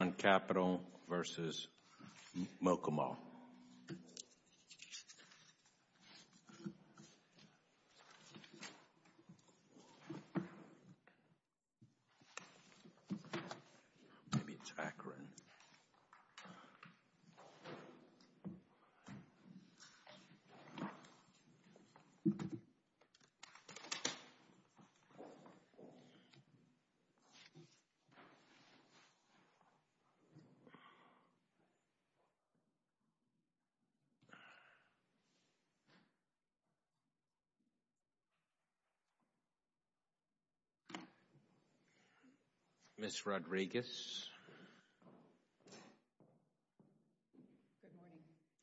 Acheron Capital, Ltd. v. Barry Mukamal Ms. Rodriguez.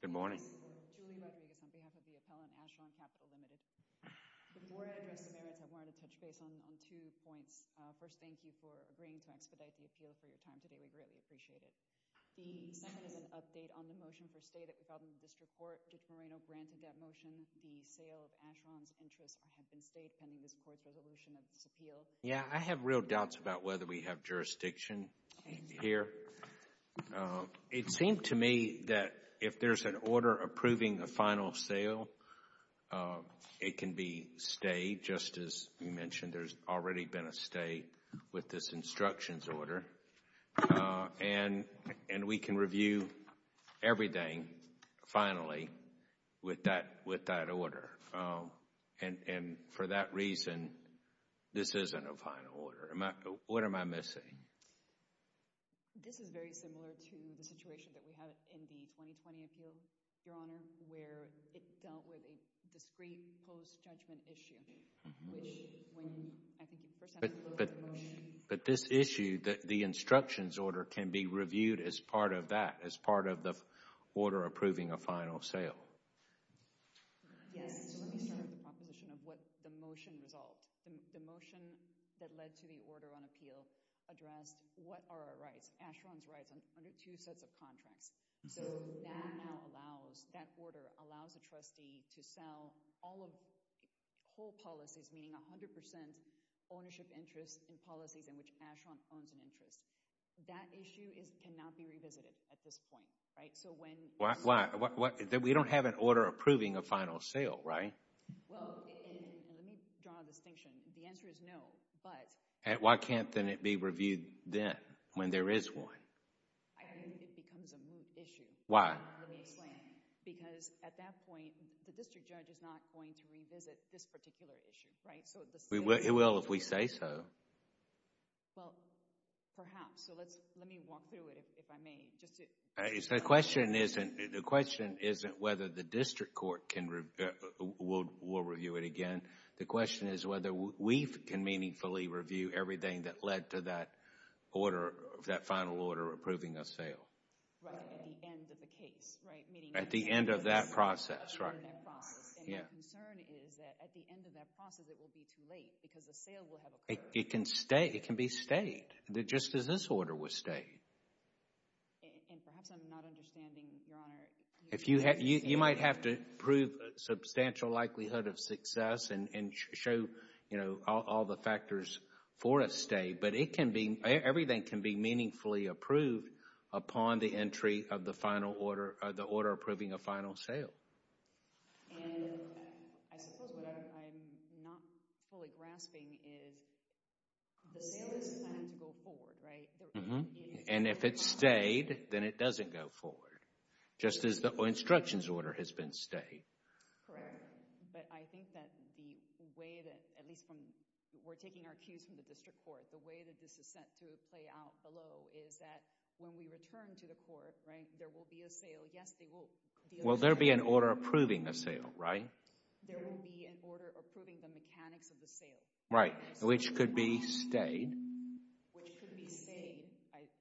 Good morning. Good morning. Julie Rodriguez on behalf of the appellant Acheron Capital, Ltd. Before I address the merits, I wanted to touch base on two points. First, thank you for agreeing to expedite the appeal for your time today. We greatly appreciate it. The second is an update on the motion for stay that we filed in the district court. Did Moreno grant that motion? The sale of Acheron's interests have been stayed pending this court's resolution of this appeal. Yeah, I have real doubts about whether we have jurisdiction here. It seemed to me that if there's an order approving a final sale, it can be stayed, just as you mentioned. There's already been a stay with this instructions order, and we can review everything finally with that order. And for that reason, this isn't a final order. What am I missing? This is very similar to the situation that we had in the 2020 appeal, Your Honor, where it dealt with a discreet post-judgment issue. But this issue, the instructions order can be reviewed as part of that, as part of the order approving a final sale. Yes, so let me start with the proposition of what the motion resolved. The motion that led to the order on appeal addressed what are our rights, Acheron's rights under two sets of contracts. So that now allows, that order allows a trustee to sell all of whole policies, meaning 100% ownership interest in policies in which Acheron owns an interest. That issue cannot be revisited at this point, right? Why? We don't have an order approving a final sale, right? Well, let me draw a distinction. The answer is no, but... Why can't then it be reviewed then, when there is one? I think it becomes a moot issue. Why? Let me explain. Because at that point, the district judge is not going to revisit this particular issue, right? It will if we say so. Well, perhaps. So let me walk through it, if I may. The question isn't whether the district court can, will review it again. The question is whether we can meaningfully review everything that led to that order, that final order approving a sale. Right, at the end of the case, right? At the end of that process, right. And my concern is that at the end of that process, it will be too late, because the sale will have occurred. It can stay, it can be stayed, just as this order was stayed. And perhaps I'm not understanding, Your Honor. You might have to prove substantial likelihood of success and show, you know, all the factors for a stay, but it can be, everything can be meaningfully approved upon the entry of the final order, the order approving a final sale. And I suppose what I'm not fully grasping is the sale isn't going to go forward, right? And if it stayed, then it doesn't go forward, just as the instructions order has been stayed. Correct. But I think that the way that, at least when we're taking our cues from the district court, the way that this is set to play out below is that when we return to the court, right, there will be a sale. Yes, they will. Will there be an order approving the sale, right? There will be an order approving the mechanics of the sale. Right, which could be stayed. Which could be stayed.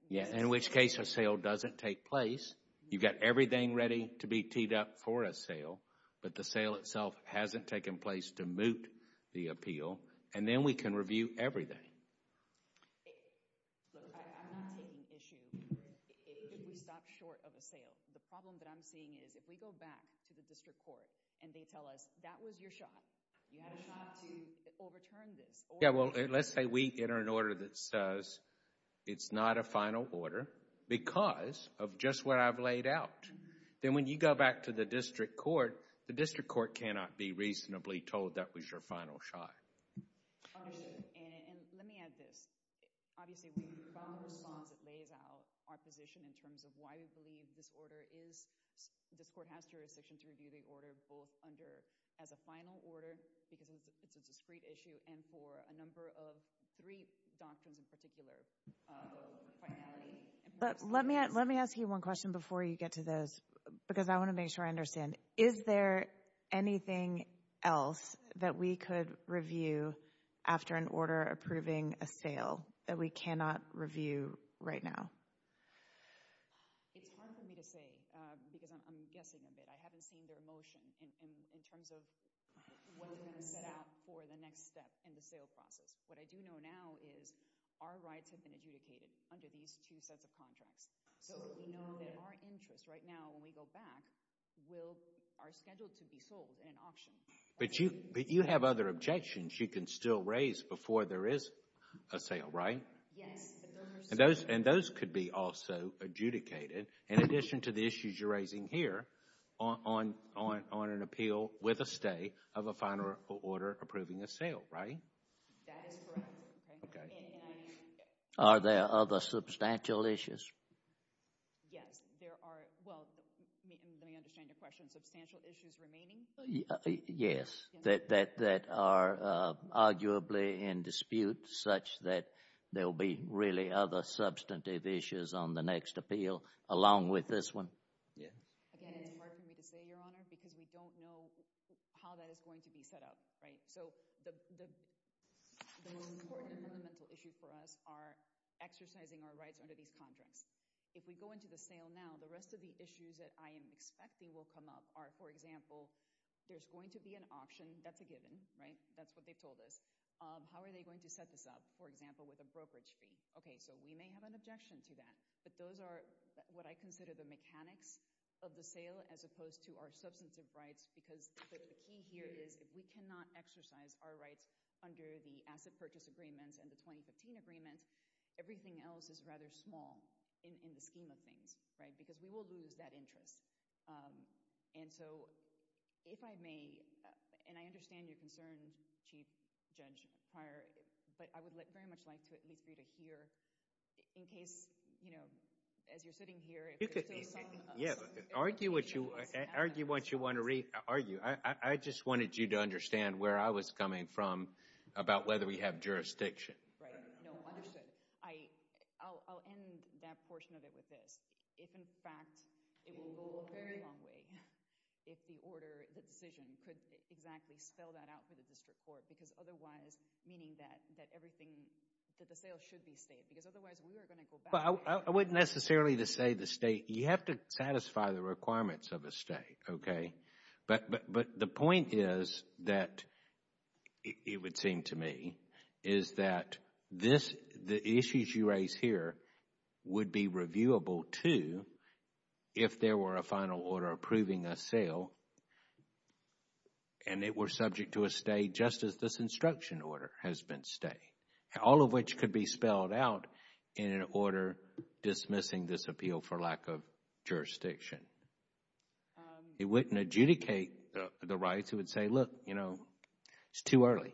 Yeah, in which case a sale doesn't take place. You've got everything ready to be teed up for a sale, but the sale itself hasn't taken place to moot the appeal, and then we can review everything. Look, I'm not taking issue if we stop short of a sale. The problem that I'm seeing is if we go back to the district court and they tell us that was your shot, you had a shot to overturn this. Yeah, well, let's say we enter an order that says it's not a final order because of just what I've laid out. Then when you go back to the district court, the district court cannot be reasonably told that was your final shot. Understood, and let me add this. Obviously, we've got a response that lays out our position in terms of why we believe this order is, this court has jurisdiction to review the order both under as a final order because it's a discreet issue and for a number of three doctrines in particular. Let me ask you one question before you get to those because I want to make sure I understand. Is there anything else that we could review after an order approving a sale that we cannot review right now? It's hard for me to say because I'm guessing a bit. I haven't seen their motion in terms of what they're going to set out for the next step in the sale process. What I do know now is our rights have been adjudicated under these two sets of contracts. So we know that our interests right now when we go back are scheduled to be sold in an auction. But you have other objections you can still raise before there is a sale, right? Yes. And those could be also adjudicated in addition to the issues you're raising here on an appeal with a stay of a final order approving a sale, right? That is correct. Are there other substantial issues? Yes, there are. Well, let me understand your question. Substantial issues remaining? Yes, that are arguably in dispute such that there will be really other substantive issues on the next appeal along with this one. Again, it's hard for me to say, Your Honor, because we don't know how that is going to be set up, right? So the most important fundamental issue for us are exercising our rights under these contracts. If we go into the sale now, the rest of the issues that I am expecting will come up are, for example, there's going to be an auction. That's a given, right? That's what they've told us. How are they going to set this up, for example, with a brokerage fee? Okay, so we may have an objection to that. But those are what I consider the mechanics of the sale as opposed to our substantive rights because the key here is if we cannot exercise our rights under the asset purchase agreements and the 2015 agreements, everything else is rather small in the scheme of things, right? Because we will lose that interest. And so if I may, and I understand your concern, Chief Judge Pryor, but I would very much like to at least for you to hear in case, you know, as you're sitting here, if there's still some. Yeah, argue what you want to argue. I just wanted you to understand where I was coming from about whether we have jurisdiction. Right. No, understood. I'll end that portion of it with this. If, in fact, it will go a very long way if the order, the decision, could exactly spell that out for the district court because otherwise, meaning that everything, that the sale should be state because otherwise we are going to go back. I wouldn't necessarily say the state. You have to satisfy the requirements of a state, okay? But the point is that, it would seem to me, is that the issues you raise here would be reviewable, too, if there were a final order approving a sale and it were subject to a state just as this instruction order has been state, all of which could be spelled out in an order dismissing this appeal for lack of jurisdiction. It wouldn't adjudicate the rights. It would say, look, you know, it's too early,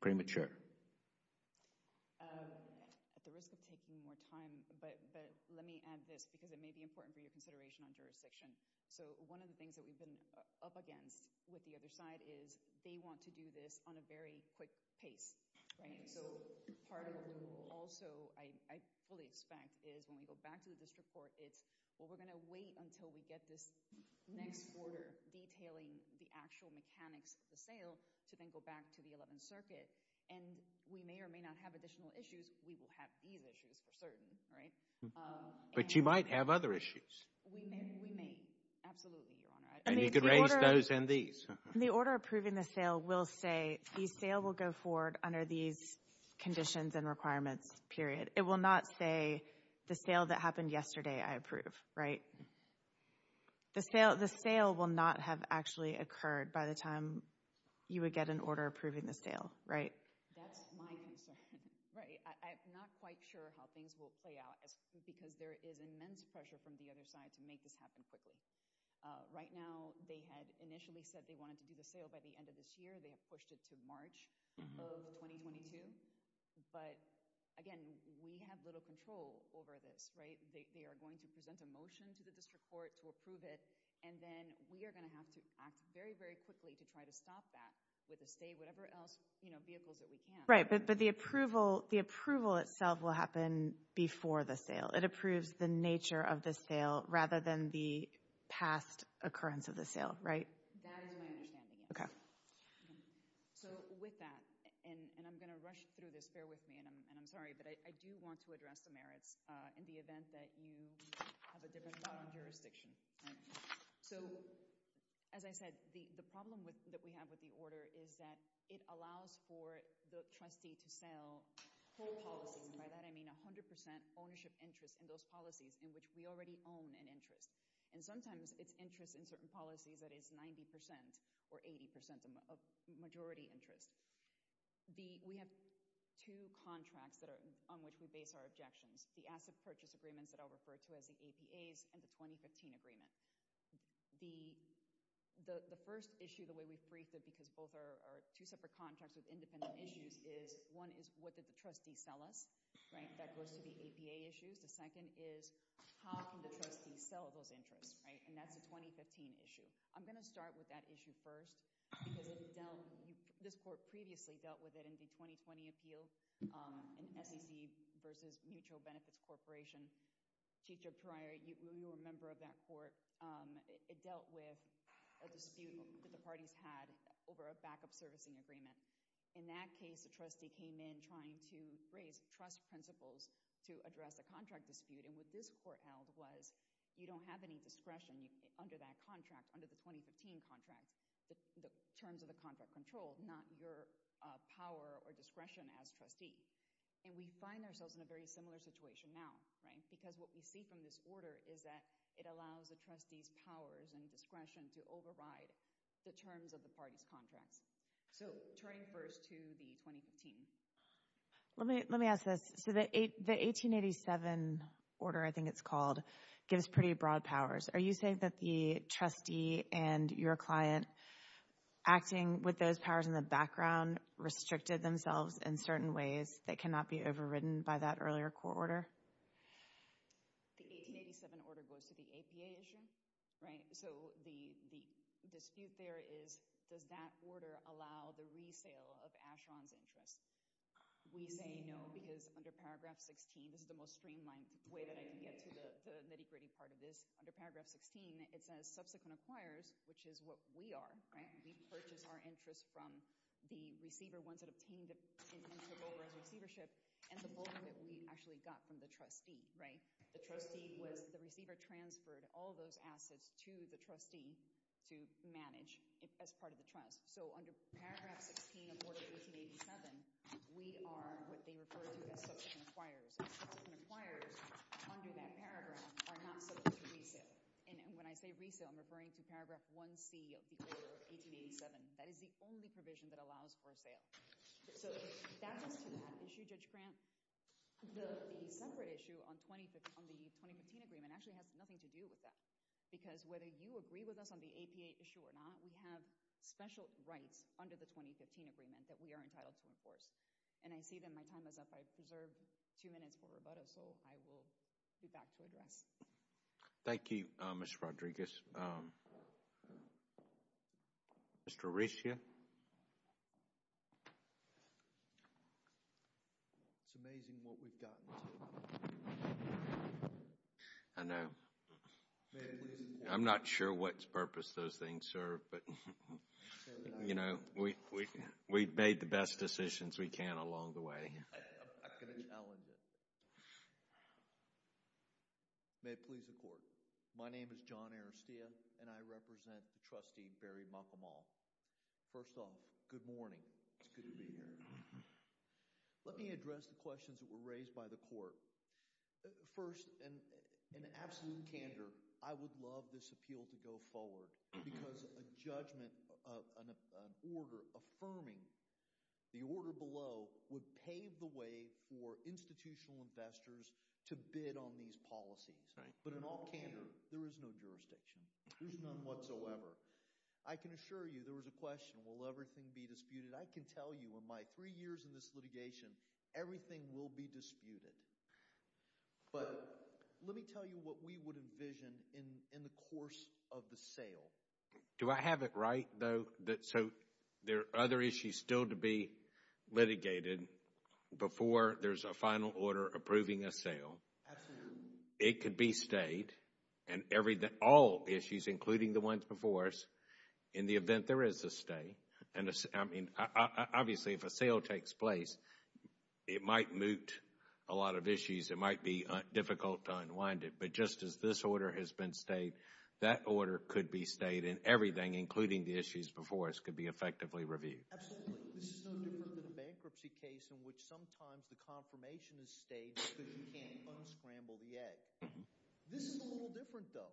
premature. At the risk of taking more time, but let me add this because it may be important for your consideration on jurisdiction. So one of the things that we've been up against with the other side is they want to do this on a very quick pace, right? So part of the rule also, I fully expect, is when we go back to the district court, it's, well, we're going to wait until we get this next order detailing the actual mechanics of the sale to then go back to the Eleventh Circuit. And we may or may not have additional issues. We will have these issues for certain, right? But you might have other issues. We may. We may. Absolutely, Your Honor. And you could raise those and these. The order approving the sale will say the sale will go forward under these conditions and requirements, period. It will not say the sale that happened yesterday I approve, right? The sale will not have actually occurred by the time you would get an order approving the sale, right? That's my concern. I'm not quite sure how things will play out because there is immense pressure from the other side to make this happen quickly. Right now, they had initially said they wanted to do the sale by the end of this year. They have pushed it to March of 2022. But, again, we have little control over this, right? They are going to present a motion to the district court to approve it. And then we are going to have to act very, very quickly to try to stop that with a stay, whatever else, you know, vehicles that we can. Right, but the approval itself will happen before the sale. It approves the nature of the sale rather than the past occurrence of the sale, right? That is my understanding, yes. Okay. So, with that, and I'm going to rush through this. Bear with me, and I'm sorry, but I do want to address the merits in the event that you have a different thought on jurisdiction. So, as I said, the problem that we have with the order is that it allows for the trustee to sell whole policies. And by that I mean 100% ownership interest in those policies in which we already own an interest. And sometimes it's interest in certain policies that is 90% or 80% of majority interest. We have two contracts on which we base our objections, the asset purchase agreements that I'll refer to as the APAs and the 2015 agreement. The first issue, the way we brief it, because both are two separate contracts with independent issues, is one is what did the trustees sell us, right? That goes to the APA issues. The second is how can the trustees sell those interests, right? And that's the 2015 issue. I'm going to start with that issue first because this court previously dealt with it in the 2020 appeal in SEC versus Mutual Benefits Corporation. Chief Judge Pariah, you were a member of that court. It dealt with a dispute that the parties had over a backup servicing agreement. In that case, the trustee came in trying to raise trust principles to address a contract dispute, and what this court held was you don't have any discretion under that contract, under the 2015 contract, the terms of the contract control, not your power or discretion as trustee. And we find ourselves in a very similar situation now, right? Because what we see from this order is that it allows the trustees' powers and discretion to override the terms of the parties' contracts. So turning first to the 2015. Let me ask this. So the 1887 order, I think it's called, gives pretty broad powers. Are you saying that the trustee and your client, acting with those powers in the background, restricted themselves in certain ways that cannot be overridden by that earlier court order? The 1887 order goes to the APA issue, right? So the dispute there is, does that order allow the resale of Asheron's interests? We say no because under Paragraph 16, this is the most streamlined way that I can get to the nitty-gritty part of this. Under Paragraph 16, it says, subsequent acquirers, which is what we are, right? We purchase our interests from the receiver, ones that obtained and took over as receivership, and the bulk of it we actually got from the trustee, right? The trustee was the receiver transferred all those assets to the trustee to manage as part of the trust. So under Paragraph 16 of Order 1887, we are what they refer to as subsequent acquirers, and subsequent acquirers under that paragraph are not subject to resale. And when I say resale, I'm referring to Paragraph 1C of the 1887. That is the only provision that allows for a sale. So that gets to that issue, Judge Grant. The separate issue on the 2015 agreement actually has nothing to do with that because whether you agree with us on the APA issue or not, we have special rights under the 2015 agreement that we are entitled to enforce. And I see that my time is up. I preserved two minutes for rebuttal, so I will be back to address. Thank you, Ms. Rodriguez. Mr. Orishia? It's amazing what we've gotten. I know. I'm not sure what purpose those things serve, but, you know, we've made the best decisions we can along the way. I'm going to challenge it. May it please the Court. My name is John Orishia, and I represent the trustee, Barry McConnell. First off, good morning. It's good to be here. Let me address the questions that were raised by the Court. First, in absolute candor, I would love this appeal to go forward because a judgment, an order affirming the order below would pave the way for institutional investors to bid on these policies. But in all candor, there is no jurisdiction. There's none whatsoever. I can assure you there was a question, I can tell you in my three years in this litigation, everything will be disputed. But let me tell you what we would envision in the course of the sale. Do I have it right, though, that so there are other issues still to be litigated before there's a final order approving a sale? Absolutely. It could be stayed, and all issues, including the ones before us, in the event there is a stay. Obviously, if a sale takes place, it might moot a lot of issues. It might be difficult to unwind it. But just as this order has been stayed, that order could be stayed, and everything, including the issues before us, could be effectively reviewed. Absolutely. This is no different than a bankruptcy case in which sometimes the confirmation is stayed because you can't unscramble the egg. This is a little different, though.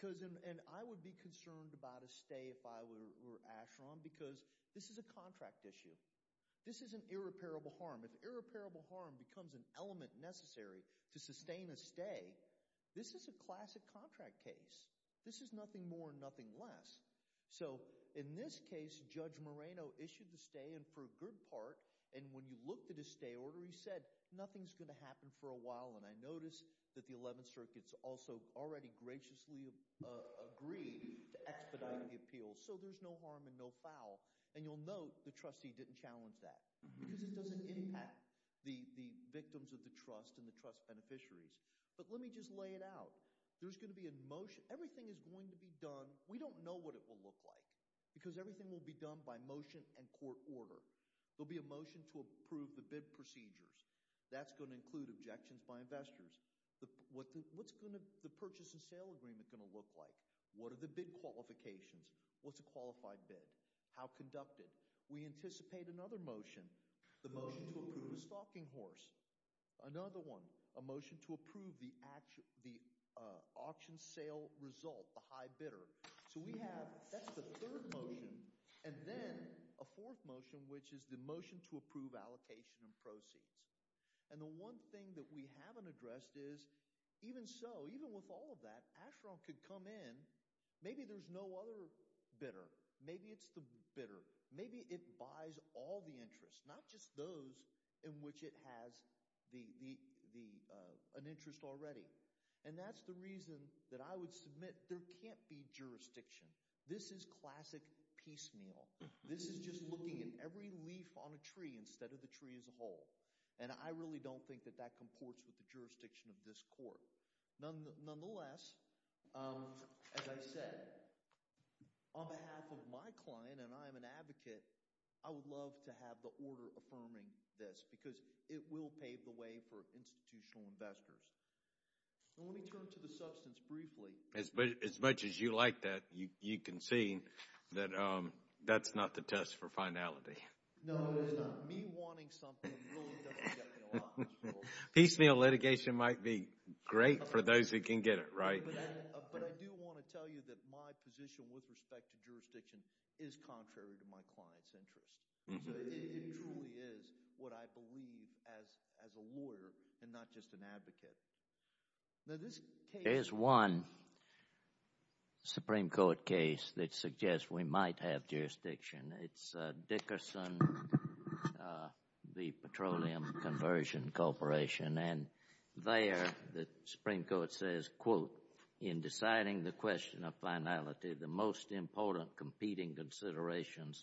And I would be concerned about a stay if I were Asheron because this is a contract issue. This is an irreparable harm. If irreparable harm becomes an element necessary to sustain a stay, this is a classic contract case. This is nothing more and nothing less. So in this case, Judge Moreno issued the stay, and for a good part, and when you looked at his stay order, he said, nothing's going to happen for a while. And I noticed that the 11th Circuit has also already graciously agreed to expedite the appeals, so there's no harm and no foul. And you'll note the trustee didn't challenge that because it doesn't impact the victims of the trust and the trust beneficiaries. But let me just lay it out. There's going to be a motion. Everything is going to be done. We don't know what it will look like because everything will be done by motion and court order. There'll be a motion to approve the bid procedures. That's going to include objections by investors. What's the purchase and sale agreement going to look like? What are the bid qualifications? What's a qualified bid? How conducted? We anticipate another motion, the motion to approve a stocking horse. Another one, a motion to approve the auction sale result, the high bidder. So we have, that's the third motion. And then a fourth motion, which is the motion to approve allocation and proceeds. And the one thing that we haven't addressed is, even so, even with all of that, if Asheron could come in, maybe there's no other bidder. Maybe it's the bidder. Maybe it buys all the interests, not just those in which it has an interest already. And that's the reason that I would submit there can't be jurisdiction. This is classic piecemeal. This is just looking at every leaf on a tree instead of the tree as a whole. And I really don't think that that comports with the jurisdiction of this court. Nonetheless, as I said, on behalf of my client, and I am an advocate, I would love to have the order affirming this because it will pave the way for institutional investors. Let me turn to the substance briefly. As much as you like that, you can see that that's not the test for finality. No, it's not. Me wanting something really doesn't get me a lot in this world. Piecemeal litigation might be great for those who can get it, right? But I do want to tell you that my position with respect to jurisdiction is contrary to my client's interests. It truly is what I believe as a lawyer and not just an advocate. There's one Supreme Court case that suggests we might have jurisdiction. It's Dickerson v. Petroleum Conversion Corporation. And there the Supreme Court says, quote, in deciding the question of finality, the most important competing considerations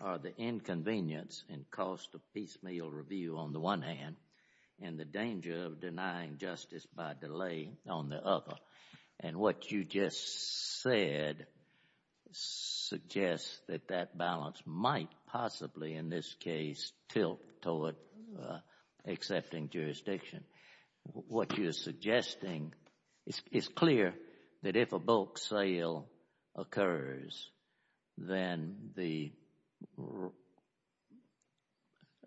are the inconvenience and cost of piecemeal review on the one hand and the danger of denying justice by delay on the other. And what you just said suggests that that balance might possibly, in this case, tilt toward accepting jurisdiction. What you're suggesting is clear that if a bulk sale occurs, then the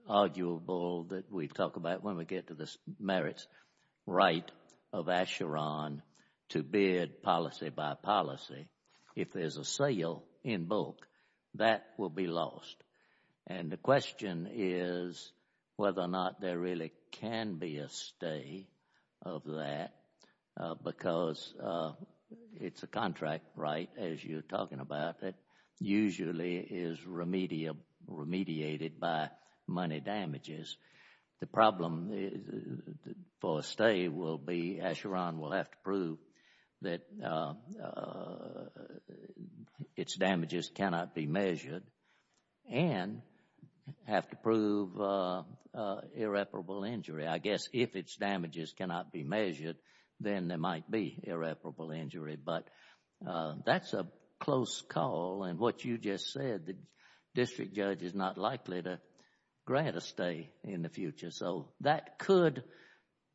arguable that we talk about when we get to the merits right of Asheron to bid policy by policy, if there's a sale in bulk, that will be lost. And the question is whether or not there really can be a stay of that because it's a contract right, as you're talking about, that usually is remediated by money damages. The problem for a stay will be that its damages cannot be measured and have to prove irreparable injury. I guess if its damages cannot be measured, then there might be irreparable injury. But that's a close call. And what you just said, the district judge is not likely to grant a stay in the future. So that could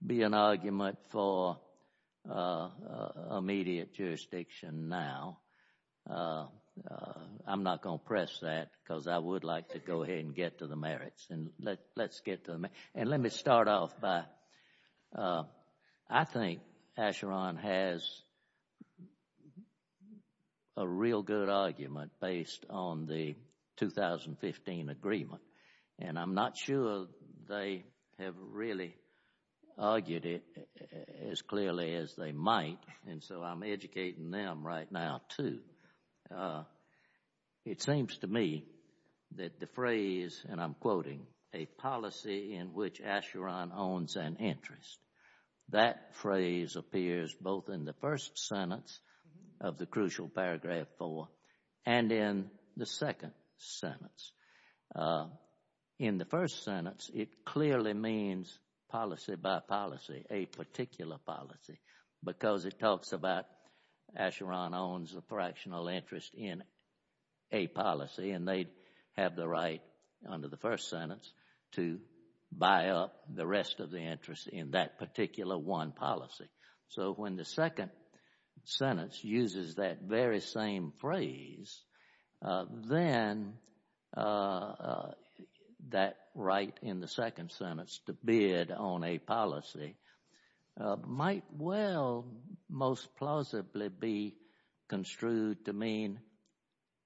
be an argument for immediate jurisdiction now. I'm not going to press that because I would like to go ahead and get to the merits. And let me start off by, I think Asheron has a real good argument based on the 2015 agreement. And I'm not sure they have really argued it as clearly as they might, and so I'm educating them right now too. It seems to me that the phrase, and I'm quoting, a policy in which Asheron owns an interest, that phrase appears both in the first sentence of the crucial paragraph four and in the second sentence. In the first sentence, it clearly means policy by policy, a particular policy, because it talks about Asheron owns a fractional interest in a policy, and they have the right under the first sentence to buy up the rest of the interest in that particular one policy. So when the second sentence uses that very same phrase, then that right in the second sentence to bid on a policy might well most plausibly be construed to mean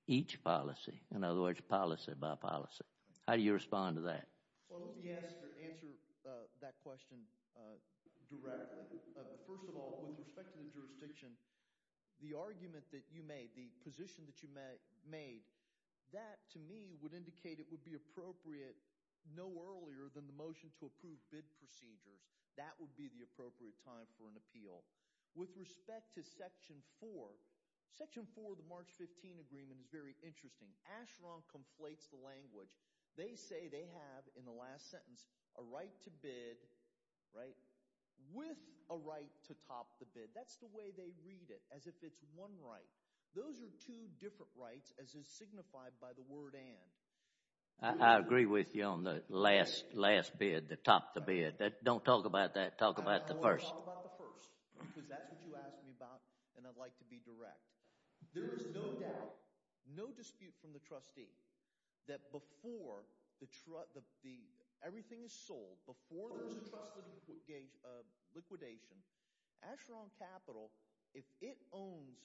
each policy, in other words, policy by policy. How do you respond to that? Well, let me answer that question directly. First of all, with respect to the jurisdiction, the argument that you made, the position that you made, that to me would indicate it would be appropriate no earlier than the motion to approve bid procedures. That would be the appropriate time for an appeal. With respect to section four, section four of the March 15 agreement is very interesting. Asheron conflates the language. They say they have, in the last sentence, a right to bid, right, with a right to top the bid. That's the way they read it, as if it's one right. Those are two different rights, as is signified by the word and. I agree with you on the last bid, the top the bid. Don't talk about that. Talk about the first. I want to talk about the first, because that's what you asked me about, and I'd like to be direct. There is no doubt, no dispute from the trustee that before everything is sold, before there's a trust liquidation, Asheron Capital, if it owns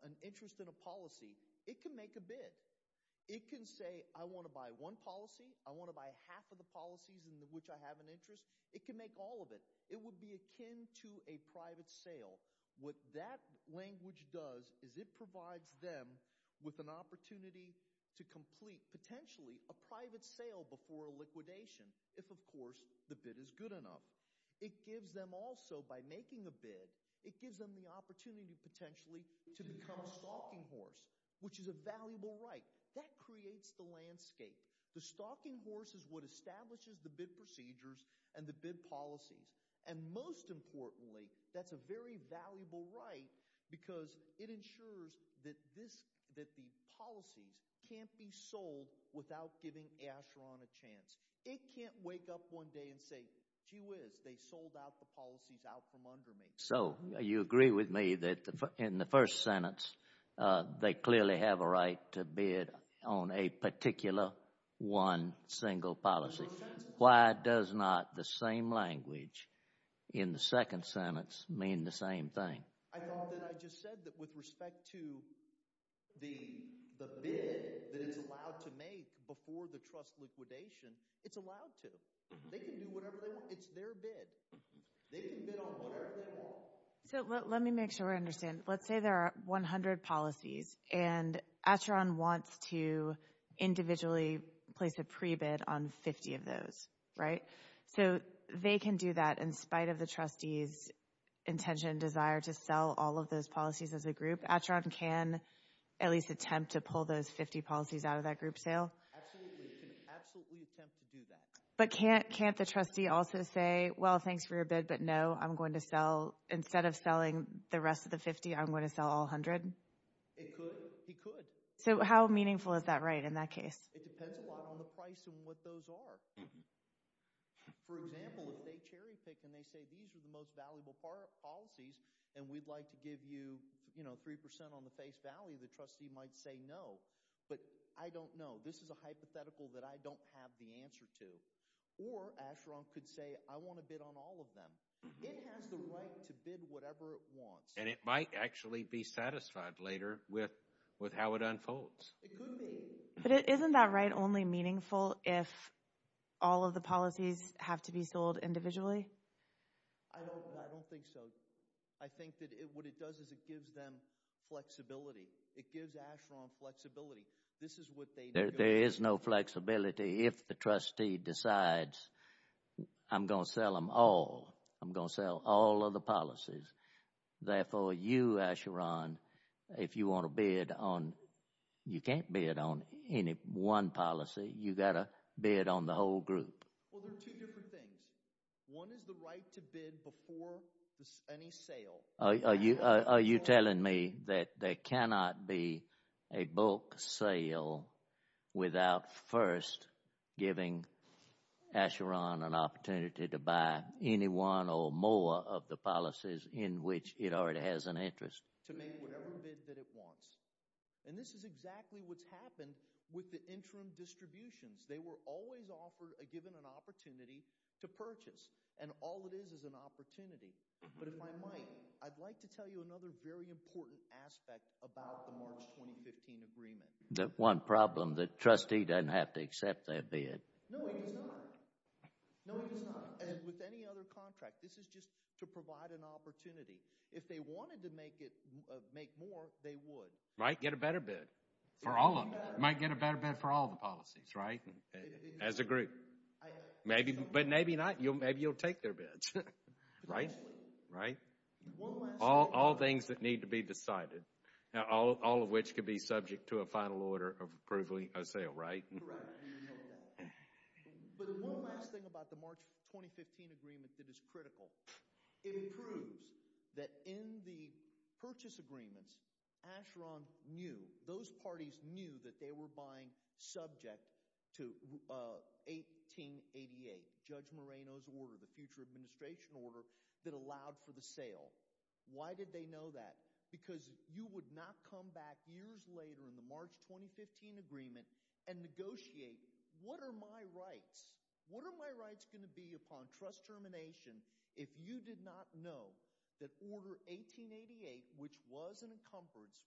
an interest in a policy, it can make a bid. It can say, I want to buy one policy, I want to buy half of the policies in which I have an interest. It can make all of it. It would be akin to a private sale. What that language does is it provides them with an opportunity to complete, potentially, a private sale before a liquidation, if, of course, the bid is good enough. It gives them also, by making a bid, it gives them the opportunity, potentially, to become a stalking horse, which is a valuable right. That creates the landscape. The stalking horse is what establishes the bid procedures and the bid policies, and most importantly, that's a very valuable right, because it ensures that the policies can't be sold without giving Asheron a chance. It can't wake up one day and say, gee whiz, they sold out the policies out from under me. So you agree with me that in the first sentence, they clearly have a right to bid on a particular one single policy. Why does not the same language in the second sentence mean the same thing? I thought that I just said that with respect to the bid that it's allowed to make before the trust liquidation, it's allowed to. They can do whatever they want. It's their bid. They can bid on whatever they want. So let me make sure I understand. Let's say there are 100 policies, and Asheron wants to individually place a pre-bid on 50 of those, right? So they can do that in spite of the trustee's intention and desire to sell all of those policies as a group. Asheron can at least attempt to pull those 50 policies out of that group sale? Absolutely. They can absolutely attempt to do that. But can't the trustee also say, well, thanks for your bid, but no, I'm going to sell, instead of selling the rest of the 50, I'm going to sell all 100? It could. He could. So how meaningful is that right in that case? It depends a lot on the price and what those are. For example, if they cherry pick and they say these are the most valuable policies and we'd like to give you 3% on the face value, the trustee might say no, but I don't know. This is a hypothetical that I don't have the answer to. Or Asheron could say I want to bid on all of them. It has the right to bid whatever it wants. And it might actually be satisfied later with how it unfolds. It could be. But isn't that right only meaningful if all of the policies have to be sold individually? I don't think so. I think that what it does is it gives them flexibility. It gives Asheron flexibility. There is no flexibility if the trustee decides I'm going to sell them all. I'm going to sell all of the policies. Therefore, you, Asheron, if you want to bid on, you can't bid on any one policy. You've got to bid on the whole group. Well, there are two different things. One is the right to bid before any sale. Are you telling me that there cannot be a bulk sale without first giving Asheron an opportunity to buy any one or more of the policies in which it already has an interest? To make whatever bid that it wants. And this is exactly what's happened with the interim distributions. They were always given an opportunity to purchase. And all it is is an opportunity. But if I might, I'd like to tell you another very important aspect about the March 2015 agreement. The one problem, the trustee doesn't have to accept that bid. No, he does not. And with any other contract, this is just to provide an opportunity. If they wanted to make more, they would. Might get a better bid. Might get a better bid for all the policies, right? As a group. But maybe not. Maybe you'll take their bids. Right? All things that need to be decided. All of which could be subject to a final order of approving a sale, right? Correct. But one last thing about the March 2015 agreement that is critical. It proves that in the purchase agreements, Asheron knew, those parties knew that they were buying subject to 1888, Judge Moreno's order, the future administration order that allowed for the sale. Why did they know that? Because you would not come back years later in the March 2015 agreement and negotiate, what are my rights? What are my rights going to be upon trust termination if you did not know that Order 1888, which was an encumbrance,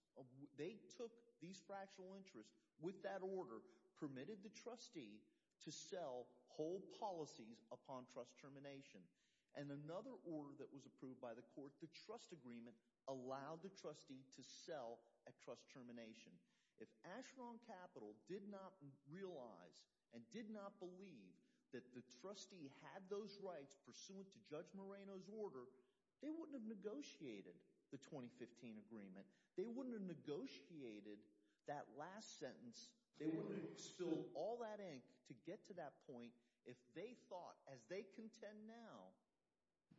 they took these fractional interests with that order, permitted the trustee to sell whole policies upon trust termination. And another order that was approved by the court, the trust agreement, allowed the trustee to sell at trust termination. If Asheron Capital did not realize and did not believe that the trustee had those rights pursuant to Judge Moreno's order, they wouldn't have negotiated the 2015 agreement. They wouldn't have negotiated that last sentence. They wouldn't have spilled all that ink to get to that point if they thought, as they contend now,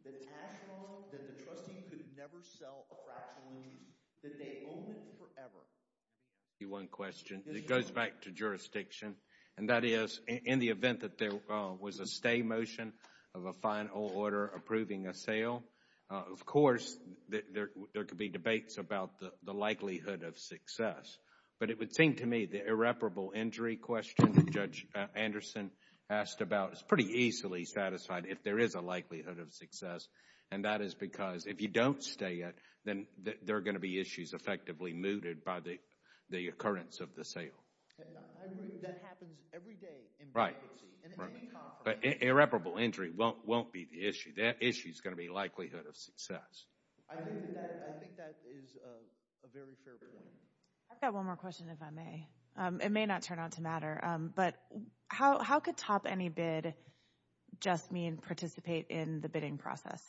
that Asheron, that the trustee could never sell a fractional interest, that they own it forever. I'll ask you one question. It goes back to jurisdiction. And that is, in the event that there was a stay motion of a final order approving a sale, of course, there could be debates about the likelihood of success. But it would seem to me the irreparable injury question that Judge Anderson asked about is pretty easily satisfied if there is a likelihood of success. And that is because if you don't stay it, then there are going to be issues effectively mooted by the occurrence of the sale. That happens every day in bankruptcy. But irreparable injury won't be the issue. That issue is going to be likelihood of success. I think that is a very fair point. I've got one more question, if I may. It may not turn out to matter, but how could top any bid just mean participate in the bidding process?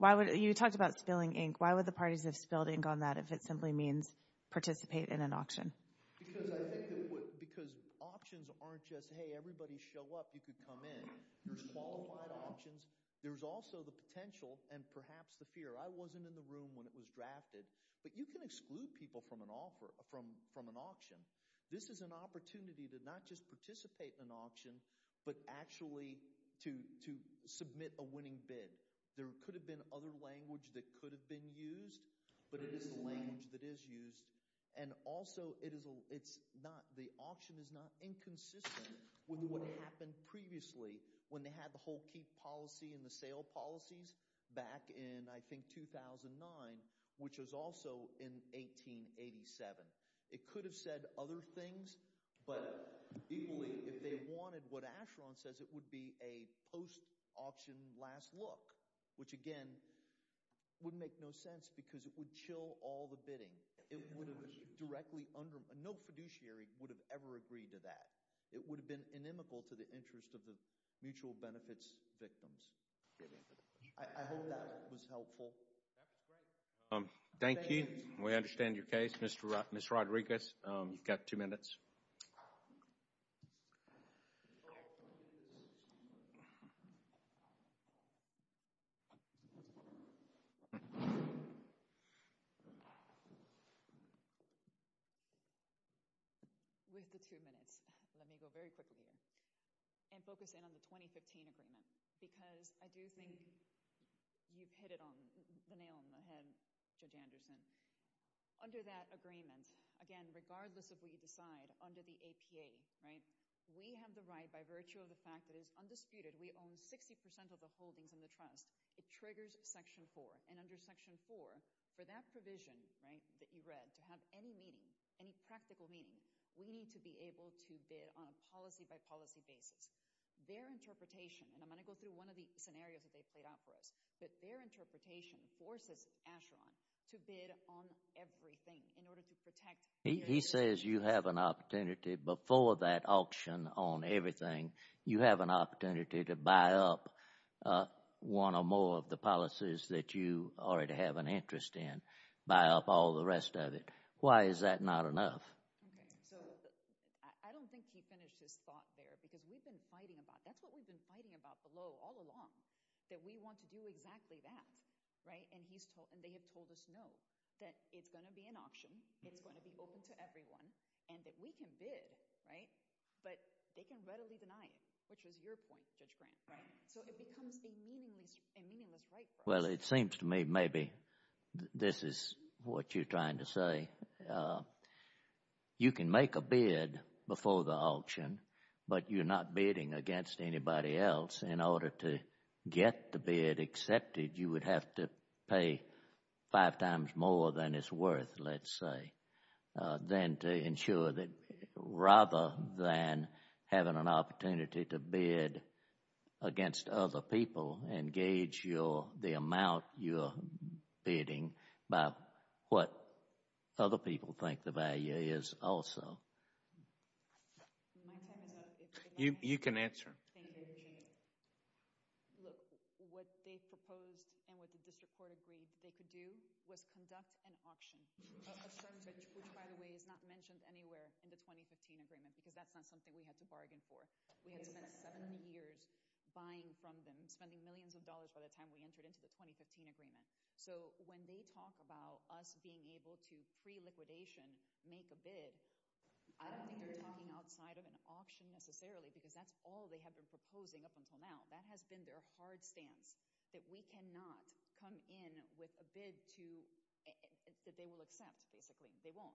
You talked about spilling ink. Why would the parties have spilled ink on that if it simply means participate in an auction? Because options aren't just, hey, everybody show up, you could come in. There's qualified options. There's also the potential and perhaps the fear. I wasn't in the room when it was drafted. But you can exclude people from an auction. This is an opportunity to not just participate in an auction, but actually to submit a winning bid. There could have been other language that could have been used, but it is the language that is used. Also, the auction is not inconsistent with what happened previously when they had the whole keep policy and the sale policies back in, I think, 2009, which was also in 1887. It could have said other things, but equally, if they wanted what Asheron says, it would be a post-auction last look, which again would make no sense because it would chill all the bidding. No fiduciary would have ever agreed to that. It would have been inimical to the interest of the mutual benefits victims. I hope that was helpful. Thank you. We understand your case. Ms. Rodriguez, you've got two minutes. With the two minutes, let me go very quickly and focus in on the 2015 agreement because I do think you've hit it on the nail on the head, Judge Anderson. Under that agreement, again, regardless of what you decide, under the APA, we have the right, by virtue of the fact that it is undisputed, we own 60% of the holdings in the trust. It triggers Section 4, and under Section 4, for that provision that you read to have any meaning, any practical meaning, we need to be able to bid on a policy-by-policy basis. Their interpretation, and I'm going to go through one of the scenarios that they've played out for us, but their interpretation forces Asheron to bid on everything in order to protect— He says you have an opportunity before that auction on everything, you have an opportunity to buy up one or more of the policies that you already have an interest in, buy up all the rest of it. Why is that not enough? Okay, so I don't think he finished his thought there because we've been fighting about, that's what we've been fighting about below all along, that we want to do exactly that, right? And they have told us no, that it's going to be an auction, it's going to be open to everyone, and that we can bid, right? But they can readily deny it, which was your point, Judge Grant. Right, so it becomes a meaningless right. Well, it seems to me maybe this is what you're trying to say. You can make a bid before the auction, but you're not bidding against anybody else in order to get the bid accepted. You would have to pay five times more than it's worth, let's say, than to ensure that rather than having an opportunity to bid against other people and gauge the amount you're bidding by what other people think the value is also. You can answer. Look, what they proposed and what the district court agreed that they could do was conduct an auction, which by the way is not mentioned anywhere in the 2015 agreement because that's not something we had to bargain for. We had to spend seven years buying from them, spending millions of dollars by the time we entered into the 2015 agreement. So when they talk about us being able to pre-liquidation make a bid, I don't think they're talking outside of an auction necessarily because that's all they have been proposing up until now. That has been their hard stance, that we cannot come in with a bid that they will accept, basically. They won't.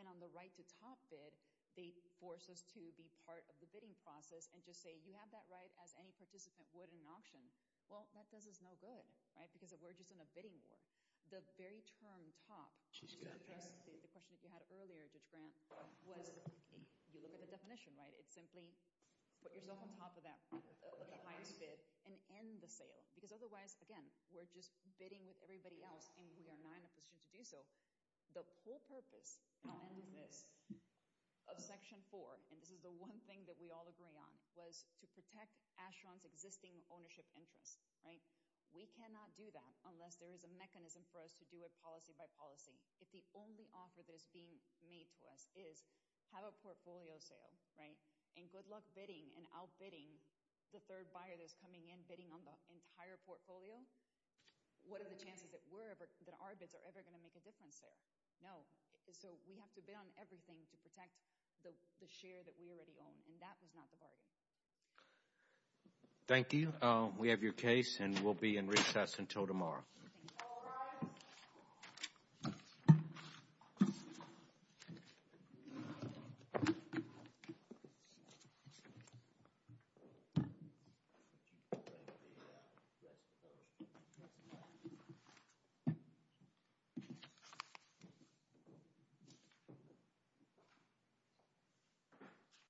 And on the right-to-top bid, they force us to be part of the bidding process and just say, you have that right as any participant would in an auction. Well, that does us no good because we're just in a bidding war. The very term top, which addresses the question that we had earlier, Judge Grant, was you look at the definition. It's simply put yourself on top of that highest bid and end the sale because otherwise, again, we're just bidding with everybody else and we are not in a position to do so. The whole purpose of Section 4, and this is the one thing that we all agree on, was to protect Asheron's existing ownership interest. We cannot do that unless there is a mechanism for us to do it policy by policy. If the only offer that is being made to us is have a portfolio sale and good luck bidding and outbidding the third buyer that's coming in bidding on the entire portfolio, what are the chances that our bids are ever going to make a difference there? No. So we have to bid on everything to protect the share that we already own, and that was not the bargain. Thank you. We have your case and we'll be in recess until tomorrow. All rise.